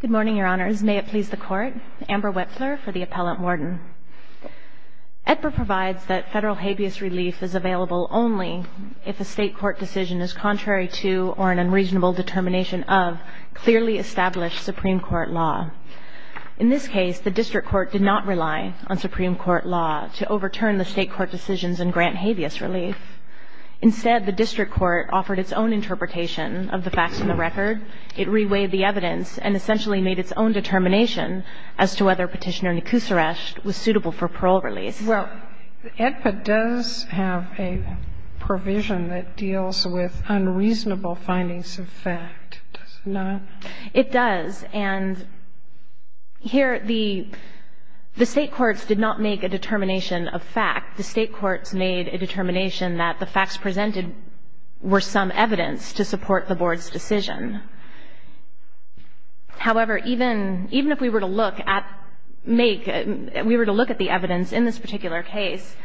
Good morning, Your Honors. May it please the Court, Amber Wexler for the Appellant Warden. EDPA provides that federal habeas relief is available only if a state court decision is contrary to or an unreasonable determination of clearly established Supreme Court law. In this case, the district court did not rely on Supreme Court law to overturn the state court decisions in grant habeas relief. Instead, the district court offered its own interpretation of the facts in the record. It reweighed the evidence and essentially made its own determination as to whether Petitioner Nikoosersht was suitable for parole release. Well, EDPA does have a provision that deals with unreasonable findings of fact, does it not? It does. And here the state courts did not make a determination of fact. The state courts made a determination that the facts presented were some evidence to support the Board's decision. However, even if we were to look at the evidence in this particular case,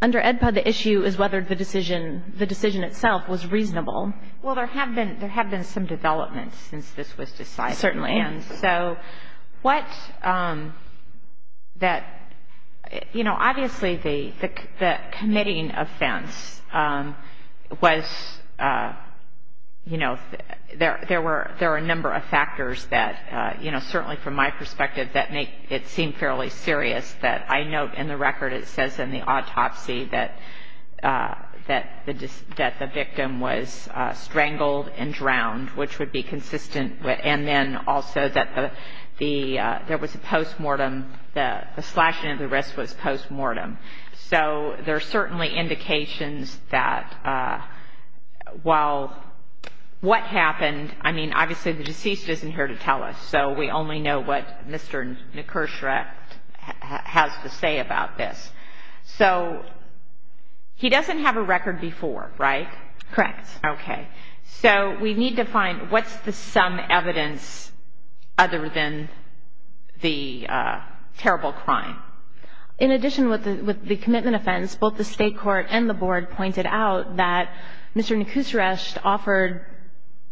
under EDPA, the issue is whether the decision itself was reasonable. Well, there have been some developments since this was decided. Certainly. And so what that, you know, obviously the committing offense was, you know, there were a number of factors that, you know, certainly from my perspective that make it seem fairly serious that I note in the record it says in the autopsy that the victim was strangled and drowned, which would be consistent. And then also that there was a postmortem, the slashing of the wrist was postmortem. So there are certainly indications that while what happened, I mean, obviously the deceased isn't here to tell us, so we only know what Mr. Nikoosersht has to say about this. So he doesn't have a record before, right? Correct. Okay. So we need to find what's the sum evidence other than the terrible crime. In addition with the commitment offense, both the State Court and the Board pointed out that Mr. Nikoosersht offered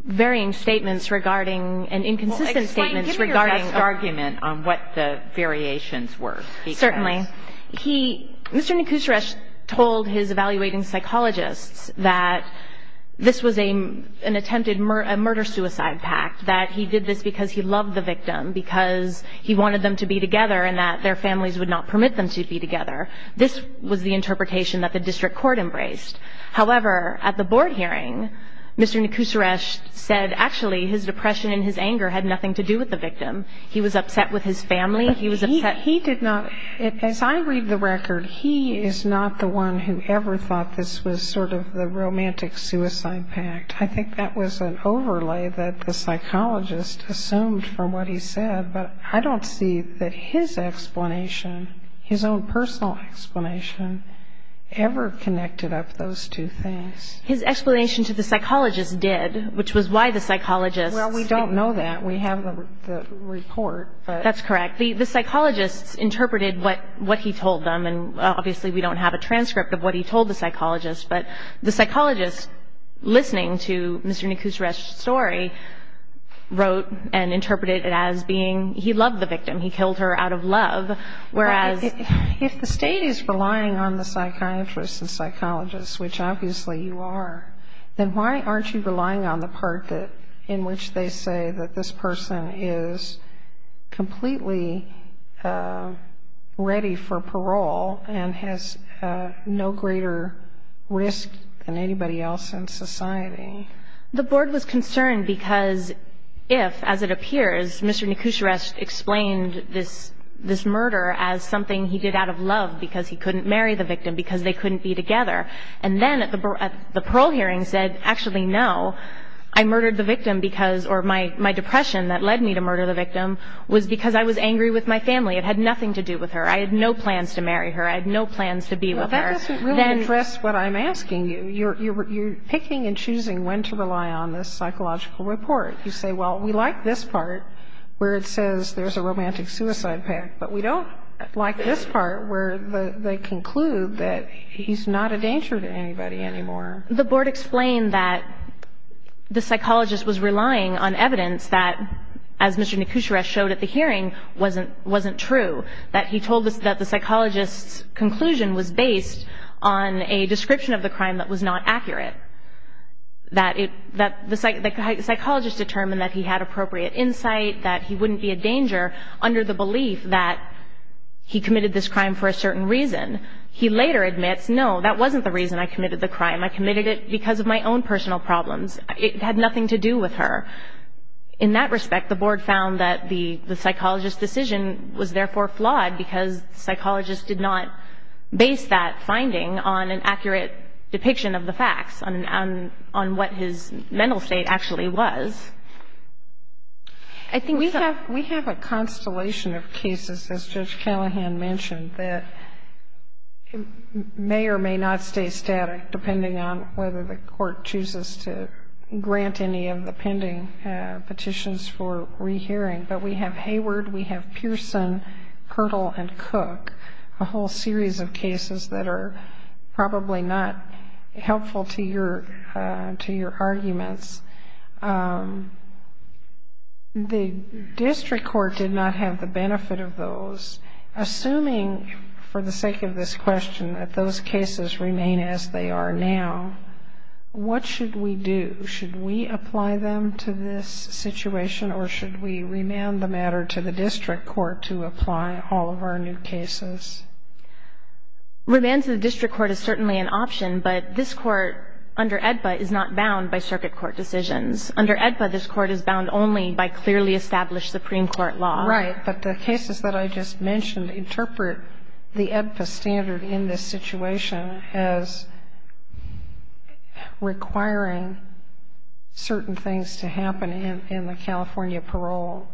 varying statements regarding and inconsistent statements regarding the argument on what the variations were. Certainly. Mr. Nikoosersht told his evaluating psychologists that this was an attempted murder-suicide pact, that he did this because he loved the victim, because he wanted them to be together, and that their families would not permit them to be together. This was the interpretation that the district court embraced. However, at the Board hearing, Mr. Nikoosersht said actually his depression and his anger had nothing to do with the victim. He was upset with his family. He was upset. He did not. As I read the record, he is not the one who ever thought this was sort of the romantic-suicide pact. I think that was an overlay that the psychologist assumed from what he said, but I don't see that his explanation, his own personal explanation, ever connected up those two things. His explanation to the psychologist did, which was why the psychologist. Well, we don't know that. We have the report. That's correct. The psychologist interpreted what he told them, and obviously we don't have a transcript of what he told the psychologist, but the psychologist, listening to Mr. Nikoosersht's story, wrote and interpreted it as being he loved the victim. He killed her out of love, whereas. If the State is relying on the psychiatrists and psychologists, which obviously you are, then why aren't you relying on the part in which they say that this person is completely ready for parole and has no greater risk than anybody else in society? The board was concerned because if, as it appears, Mr. Nikoosersht explained this murder as something he did out of love because he couldn't marry the victim, because they couldn't be together, and then at the parole hearing said, actually, no, I murdered the victim because, or my depression that led me to murder the victim was because I was angry with my family. It had nothing to do with her. I had no plans to marry her. I had no plans to be with her. Well, that doesn't really address what I'm asking you. You're picking and choosing when to rely on this psychological report. You say, well, we like this part where it says there's a romantic suicide pact, but we don't like this part where they conclude that he's not a danger to anybody anymore. The board explained that the psychologist was relying on evidence that, as Mr. Nikoosersht showed at the hearing, wasn't true, that he told us that the psychologist's conclusion was based on a description of the crime that was not accurate, that the psychologist determined that he had appropriate insight, that he wouldn't be a danger under the belief that he committed this crime for a certain reason. He later admits, no, that wasn't the reason I committed the crime. I committed it because of my own personal problems. It had nothing to do with her. In that respect, the board found that the psychologist's decision was therefore flawed because the psychologist did not base that finding on an accurate depiction of the facts, on what his mental state actually was. I think we have a constellation of cases, as Judge Callahan mentioned, that may or may not stay static, depending on whether the court chooses to grant any of the pending petitions for rehearing. But we have Hayward, we have Pearson, Kirtle, and Cook, a whole series of cases that are probably not helpful to your arguments. The district court did not have the benefit of those. Assuming, for the sake of this question, that those cases remain as they are now, what should we do? Should we apply them to this situation, or should we remand the matter to the district court to apply all of our new cases? Remand to the district court is certainly an option, but this court under AEDPA is not bound by circuit court decisions. Under AEDPA, this court is bound only by clearly established Supreme Court law. Right, but the cases that I just mentioned interpret the AEDPA standard in this situation as requiring certain things to happen in the California parole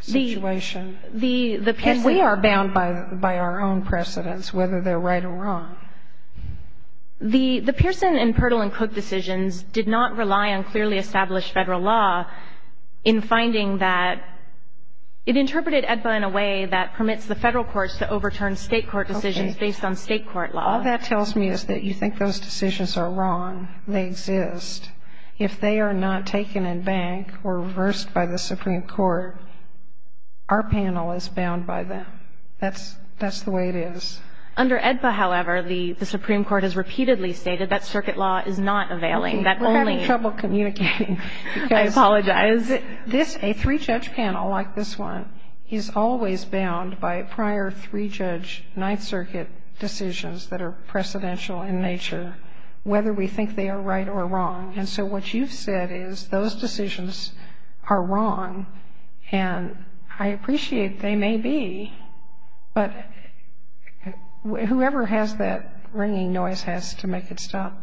situation. And we are bound by our own precedents, whether they're right or wrong. The Pearson and Kirtle and Cook decisions did not rely on clearly established Federal law in finding that it interpreted AEDPA in a way that permits the Federal courts to overturn State court decisions based on State court law. All that tells me is that you think those decisions are wrong. They exist. If they are not taken in bank or reversed by the Supreme Court, our panel is bound by them. That's the way it is. Under AEDPA, however, the Supreme Court has repeatedly stated that circuit law is not availing. We're having trouble communicating. I apologize. A three-judge panel like this one is always bound by prior three-judge Ninth Circuit decisions that are precedential in nature, whether we think they are right or wrong. And so what you've said is those decisions are wrong. And I appreciate they may be, but whoever has that ringing noise has to make it stop.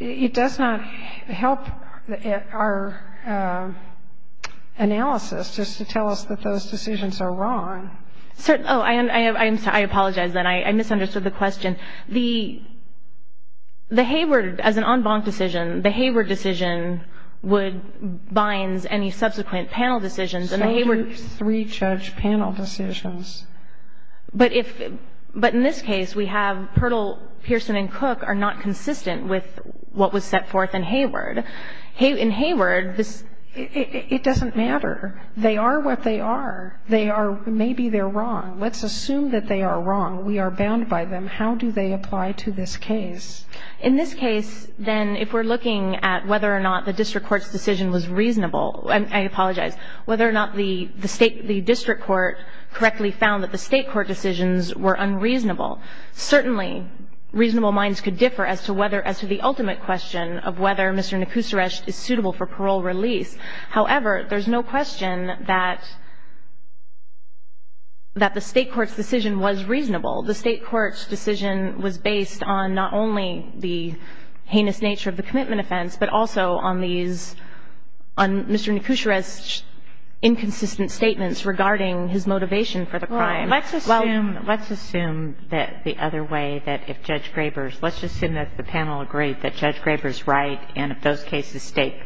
It does not help our analysis just to tell us that those decisions are wrong. Oh, I'm sorry. I apologize then. I misunderstood the question. The Hayward, as an en banc decision, the Hayward decision would bind any subsequent panel decisions, and the Hayward. Circuit three-judge panel decisions. But if, but in this case, we have Pirtle, Pearson and Cook are not consistent with what was set forth in Hayward. In Hayward, this. It doesn't matter. They are what they are. They are, maybe they're wrong. Let's assume that they are wrong. We are bound by them. How do they apply to this case? In this case, then, if we're looking at whether or not the district court's decision was reasonable, I apologize, whether or not the state, the district court correctly found that the state court decisions were unreasonable. Certainly, reasonable minds could differ as to whether, as to the ultimate question of whether Mr. Nekusaresh is suitable for parole release. However, there's no question that the state court's decision was reasonable. The state court's decision was based on not only the heinous nature of the commitment offense, but also on these, on Mr. Nekusaresh's inconsistent statements regarding his motivation for the crime. Well, let's assume, let's assume that the other way, that if Judge Graber's, let's assume that the panel agreed that Judge Graber's right, and if those cases stay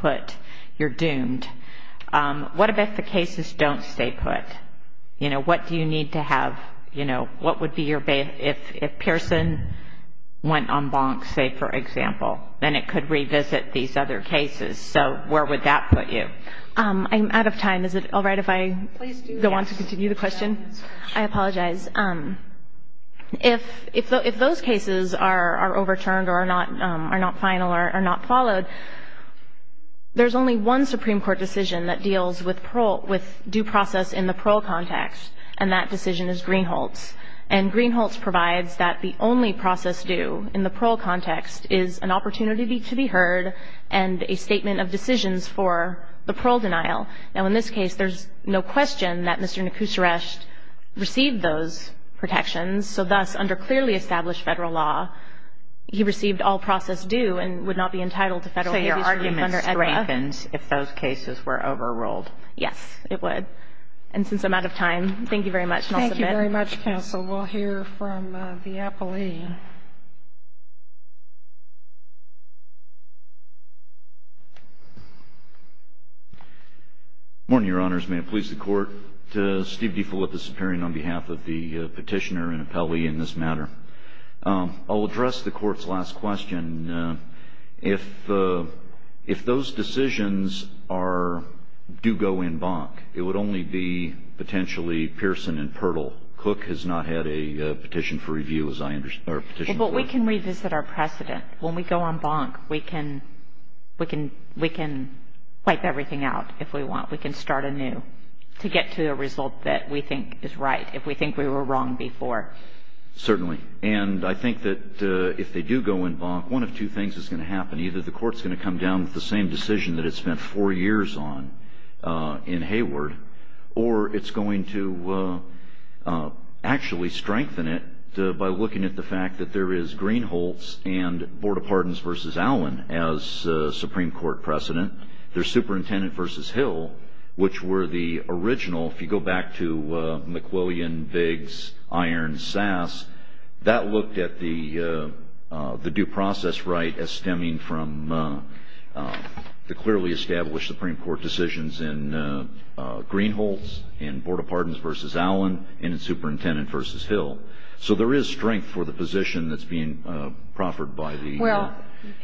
put, you're doomed. What about if the cases don't stay put? You know, what do you need to have, you know, what would be your, if Pearson went en banc, say, for example, then it could revisit these other cases. So where would that put you? I'm out of time. Is it all right if I go on to continue the question? I apologize. If those cases are overturned or are not final or are not followed, there's only one Supreme Court decision that deals with parole, with due process in the parole context, and that decision is Greenholtz. And Greenholtz provides that the only process due in the parole context is an opportunity to be heard and a statement of decisions for the parole denial. Now, in this case, there's no question that Mr. Nekusaresh received those protections, so thus, under clearly established Federal law, he received all process due and would not be entitled to Federal abuse relief under ECLA. So your argument strengthens if those cases were overruled? Yes, it would. And since I'm out of time, thank you very much, and I'll submit. Thank you very much, counsel. We'll hear from the appellee. Good morning, Your Honors. May it please the Court. Steve DeFilippis appearing on behalf of the petitioner and appellee in this matter. I'll address the Court's last question. If those decisions are, do go in bonk, it would only be potentially Pearson and Pirtle. Cook has not had a petition for review, as I understand, or a petition for review. Well, but we can revisit our precedent. When we go on bonk, we can wipe everything out if we want. We can start anew to get to a result that we think is right, if we think we were wrong before. Certainly. And I think that if they do go in bonk, one of two things is going to happen. Either the Court's going to come down with the same decision that it spent four years on in Hayward, or it's going to actually strengthen it by looking at the fact that there is Greenholts and Board of Pardons v. Allen as Supreme Court precedent. There's Superintendent v. Hill, which were the original, if you go back to McWillian, Biggs, Irons, Sass, that looked at the due process right as stemming from the clearly established Supreme Court decisions in Greenholts and Board of Pardons v. Allen and in Superintendent v. Hill. So there is strength for the position that's being proffered by the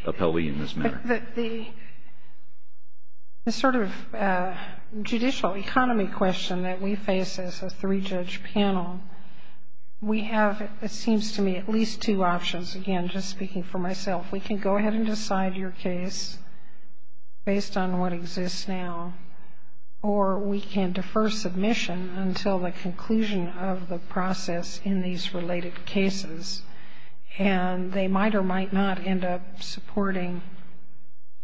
appellee in this matter. The sort of judicial economy question that we face as a three-judge panel, we have, it seems to me, at least two options. Again, just speaking for myself, we can go ahead and decide your case based on what exists now, or we can defer submission until the conclusion of the process in these related cases, and they might or might not end up supporting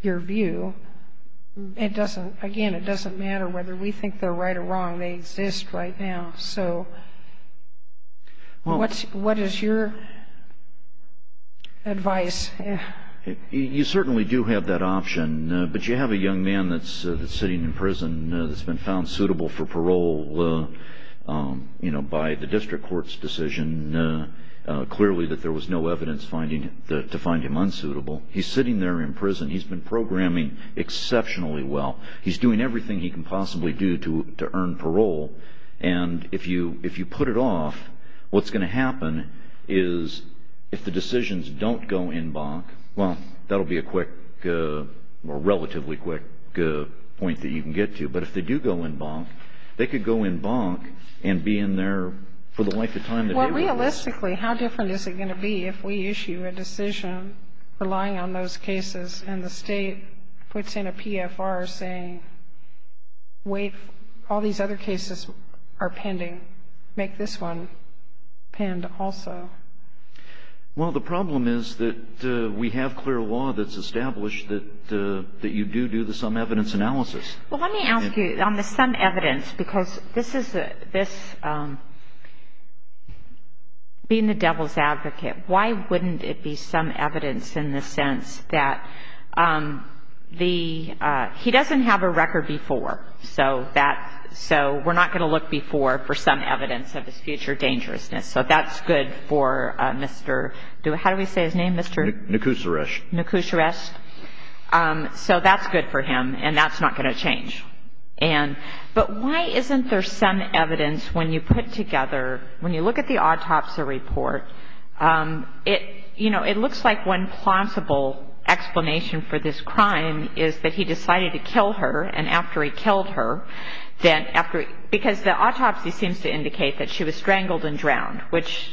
your view. Again, it doesn't matter whether we think they're right or wrong. They exist right now. What is your advice? You certainly do have that option, but you have a young man that's sitting in prison that's been found suitable for parole by the district court's decision, clearly that there was no evidence to find him unsuitable. He's sitting there in prison. He's been programming exceptionally well. He's doing everything he can possibly do to earn parole, and if you put it off, what's going to happen is if the decisions don't go en banc, well, that will be a quick or relatively quick point that you can get to. But if they do go en banc, they could go en banc and be in there for the length of time that they want. Well, realistically, how different is it going to be if we issue a decision relying on those cases and the State puts in a PFR saying, wait, all these other cases are pending. Make this one penned also. Well, the problem is that we have clear law that's established that you do do the sum evidence analysis. Well, let me ask you on the sum evidence, because this is the ‑‑ being the devil's advocate, why wouldn't it be sum evidence in the sense that he doesn't have a record before, so we're not going to look before for sum evidence of his future dangerousness. So that's good for Mr. ‑‑ how do we say his name, Mr. ‑‑ Nakusharest. Nakusharest. So that's good for him, and that's not going to change. But why isn't there sum evidence when you put together, when you look at the autopsy report, it looks like one plausible explanation for this crime is that he decided to kill her, and after he killed her, then after ‑‑ because the autopsy seems to indicate that she was strangled and drowned, which,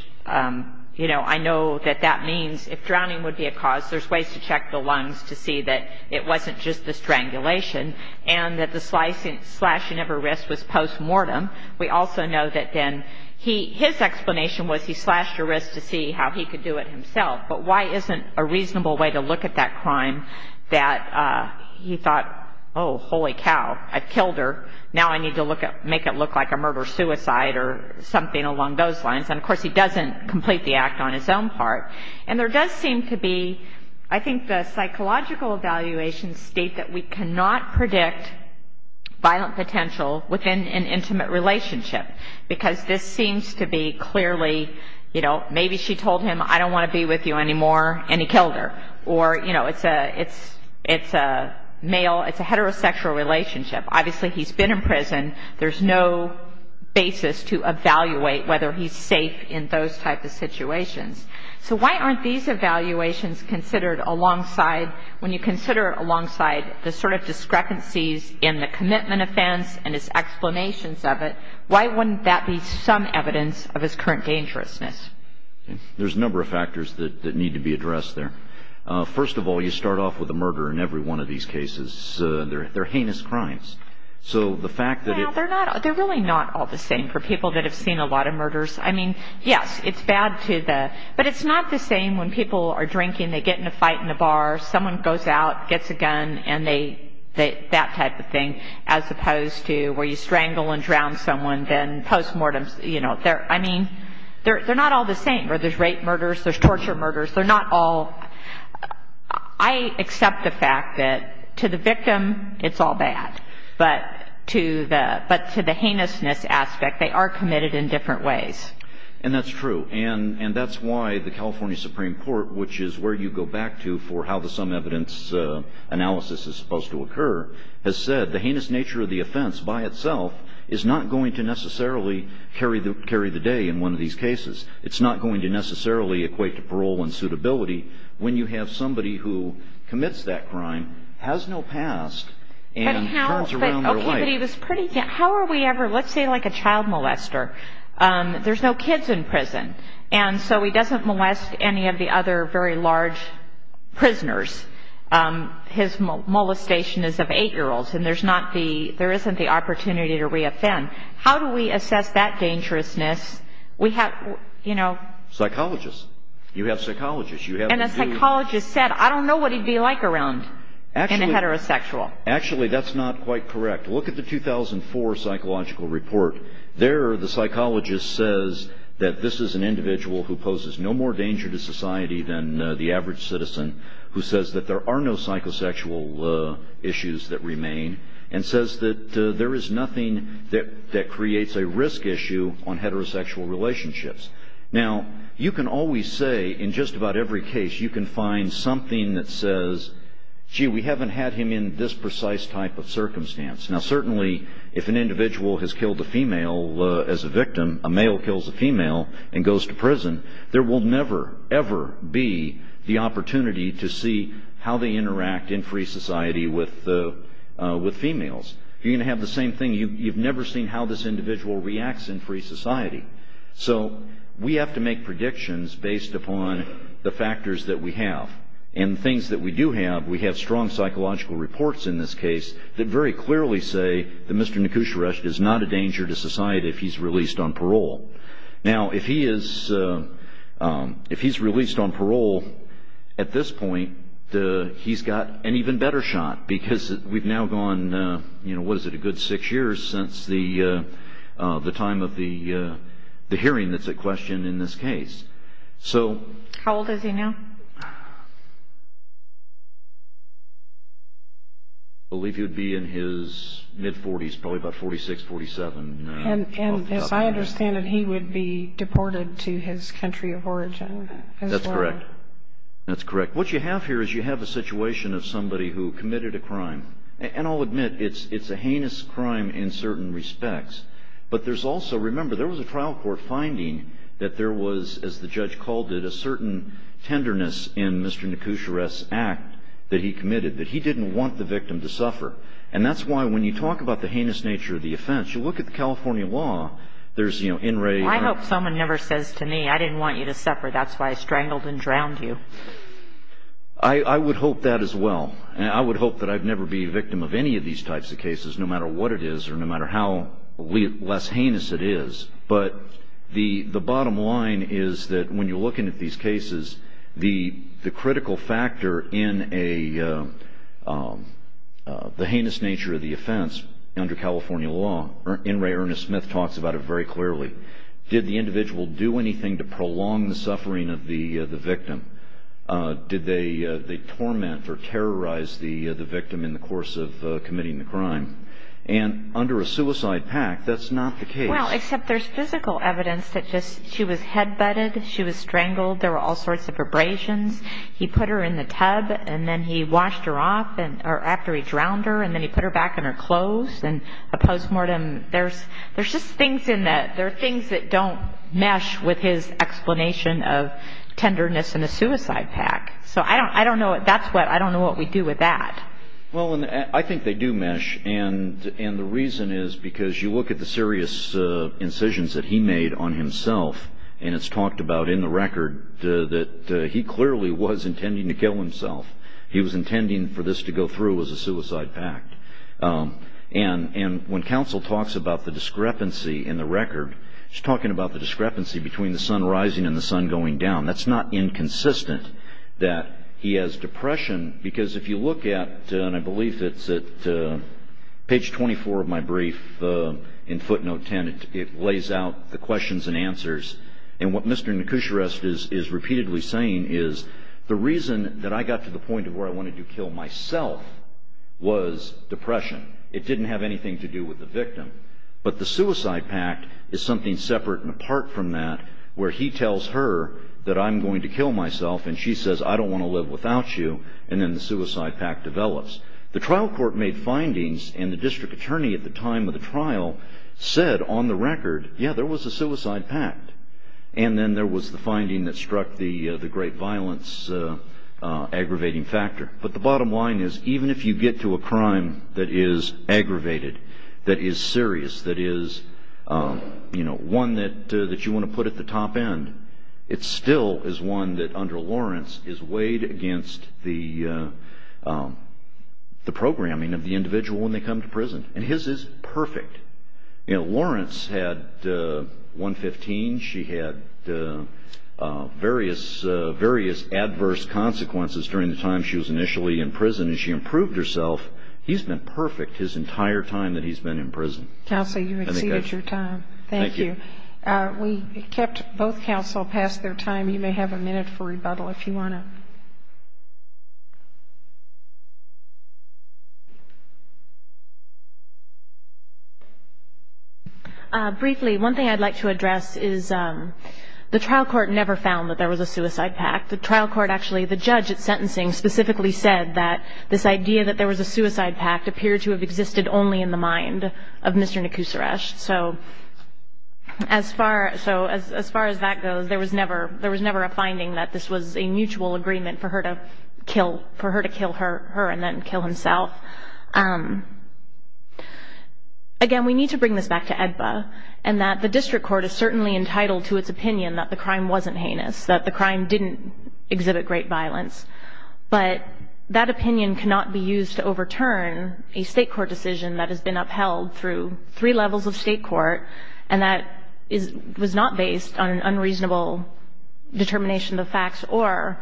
you know, I know that that means if drowning would be a cause, there's ways to check the lungs to see that it wasn't just the strangulation, and that the slashing of her wrist was postmortem. We also know that then his explanation was he slashed her wrist to see how he could do it himself. But why isn't a reasonable way to look at that crime that he thought, oh, holy cow, I killed her, now I need to make it look like a murder‑suicide or something along those lines. And, of course, he doesn't complete the act on his own part. And there does seem to be, I think, the psychological evaluations state that we cannot predict violent potential within an intimate relationship, because this seems to be clearly, you know, maybe she told him, I don't want to be with you anymore, and he killed her. Or, you know, it's a male, it's a heterosexual relationship. Obviously, he's been in prison. There's no basis to evaluate whether he's safe in those types of situations. So why aren't these evaluations considered alongside, when you consider alongside the sort of discrepancies in the commitment offense and his explanations of it, why wouldn't that be some evidence of his current dangerousness? There's a number of factors that need to be addressed there. First of all, you start off with a murder in every one of these cases. They're heinous crimes. So the fact that it... Well, they're really not all the same for people that have seen a lot of murders. I mean, yes, it's bad to the... But it's not the same when people are drinking, they get in a fight in a bar, someone goes out, gets a gun, and they... You know, I mean, they're not all the same. There's rape murders, there's torture murders. They're not all... I accept the fact that to the victim, it's all bad. But to the heinousness aspect, they are committed in different ways. And that's true. And that's why the California Supreme Court, which is where you go back to for how the sum evidence analysis is supposed to occur, has said the heinous nature of the offense by itself is not going to necessarily carry the day in one of these cases. It's not going to necessarily equate to parole and suitability when you have somebody who commits that crime, has no past, and turns around their life. Okay, but he was pretty... How are we ever... Let's say, like, a child molester. There's no kids in prison. And so he doesn't molest any of the other very large prisoners. His molestation is of 8-year-olds, and there isn't the opportunity to reoffend. How do we assess that dangerousness? We have, you know... Psychologists. You have psychologists. And a psychologist said, I don't know what he'd be like around a heterosexual. Actually, that's not quite correct. Look at the 2004 psychological report. There, the psychologist says that this is an individual who poses no more danger to society than the average citizen, who says that there are no psychosexual issues that remain, and says that there is nothing that creates a risk issue on heterosexual relationships. Now, you can always say, in just about every case, you can find something that says, gee, we haven't had him in this precise type of circumstance. Now, certainly, if an individual has killed a female as a victim, a male kills a female and goes to prison, there will never, ever be the opportunity to see how they interact in free society with females. You're going to have the same thing. You've never seen how this individual reacts in free society. So, we have to make predictions based upon the factors that we have. And the things that we do have, we have strong psychological reports in this case that very clearly say that Mr. Nekusheresht is not a danger to society if he's released on parole. Now, if he's released on parole at this point, he's got an even better shot, because we've now gone, what is it, a good six years since the time of the hearing that's at question in this case. How old is he now? I believe he would be in his mid-40s, probably about 46, 47. And as I understand it, he would be deported to his country of origin as well. That's correct. That's correct. What you have here is you have a situation of somebody who committed a crime. And I'll admit, it's a heinous crime in certain respects. But there's also, remember, there was a trial court finding that there was, as the judge called it, a certain tenderness in Mr. Nekusheresht's act that he committed, that he didn't want the victim to suffer. And that's why, when you talk about the heinous nature of the offense, you look at the California law, there's, you know, in-rate or not. I hope someone never says to me, I didn't want you to suffer. That's why I strangled and drowned you. I would hope that as well. And I would hope that I'd never be a victim of any of these types of cases, no matter what it is or no matter how less heinous it is. But the bottom line is that when you're looking at these cases, the critical factor in the heinous nature of the offense under California law, In re Ernest Smith talks about it very clearly. Did the individual do anything to prolong the suffering of the victim? Did they torment or terrorize the victim in the course of committing the crime? And under a suicide pact, that's not the case. Well, except there's physical evidence that she was head-butted, she was strangled, there were all sorts of abrasions. He put her in the tub, and then he washed her off after he drowned her, and then he put her back in her clothes. And a post-mortem, there's just things in that, there are things that don't mesh with his explanation of tenderness in a suicide pact. So I don't know, that's what, I don't know what we do with that. Well, I think they do mesh, and the reason is because you look at the serious incisions that he made on himself, and it's talked about in the record that he clearly was intending to kill himself. He was intending for this to go through as a suicide pact. And when counsel talks about the discrepancy in the record, she's talking about the discrepancy between the sun rising and the sun going down. That's not inconsistent, that he has depression, because if you look at, and I believe it's at page 24 of my brief in footnote 10, it lays out the questions and answers. And what Mr. Nekusharest is repeatedly saying is the reason that I got to the point of where I wanted to kill myself was depression. It didn't have anything to do with the victim. But the suicide pact is something separate and apart from that, where he tells her that I'm going to kill myself, and she says, I don't want to live without you, and then the suicide pact develops. The trial court made findings, and the district attorney at the time of the trial said on the record, yeah, there was a suicide pact. And then there was the finding that struck the great violence aggravating factor. But the bottom line is even if you get to a crime that is aggravated, that is serious, that is one that you want to put at the top end, it still is one that under Lawrence is weighed against the programming of the individual when they come to prison. And his is perfect. Lawrence had 115. She had various adverse consequences during the time she was initially in prison, and she improved herself. He's been perfect his entire time that he's been in prison. Counsel, you exceeded your time. Thank you. We kept both counsel past their time. You may have a minute for rebuttal if you want to. Briefly, one thing I'd like to address is the trial court never found that there was a suicide pact. The trial court actually, the judge at sentencing specifically said that this idea that there was a suicide pact appeared to have existed only in the mind of Mr. Nekusaresh. So as far as that goes, there was never a finding that this was a mutual agreement for her to kill her and then kill himself. Again, we need to bring this back to AEDPA, and that the district court is certainly entitled to its opinion that the crime wasn't heinous, that the crime didn't exhibit great violence. But that opinion cannot be used to overturn a state court decision that has been upheld through three levels of state court and that was not based on an unreasonable determination of the facts or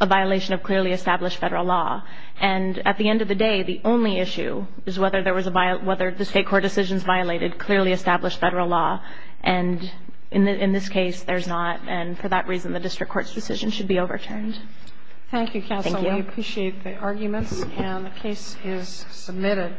a violation of clearly established federal law. And at the end of the day, the only issue is whether the state court decisions violated clearly established federal law. And in this case, there's not. And for that reason, the district court's decision should be overturned. Thank you, counsel. We appreciate the arguments. And the case is submitted.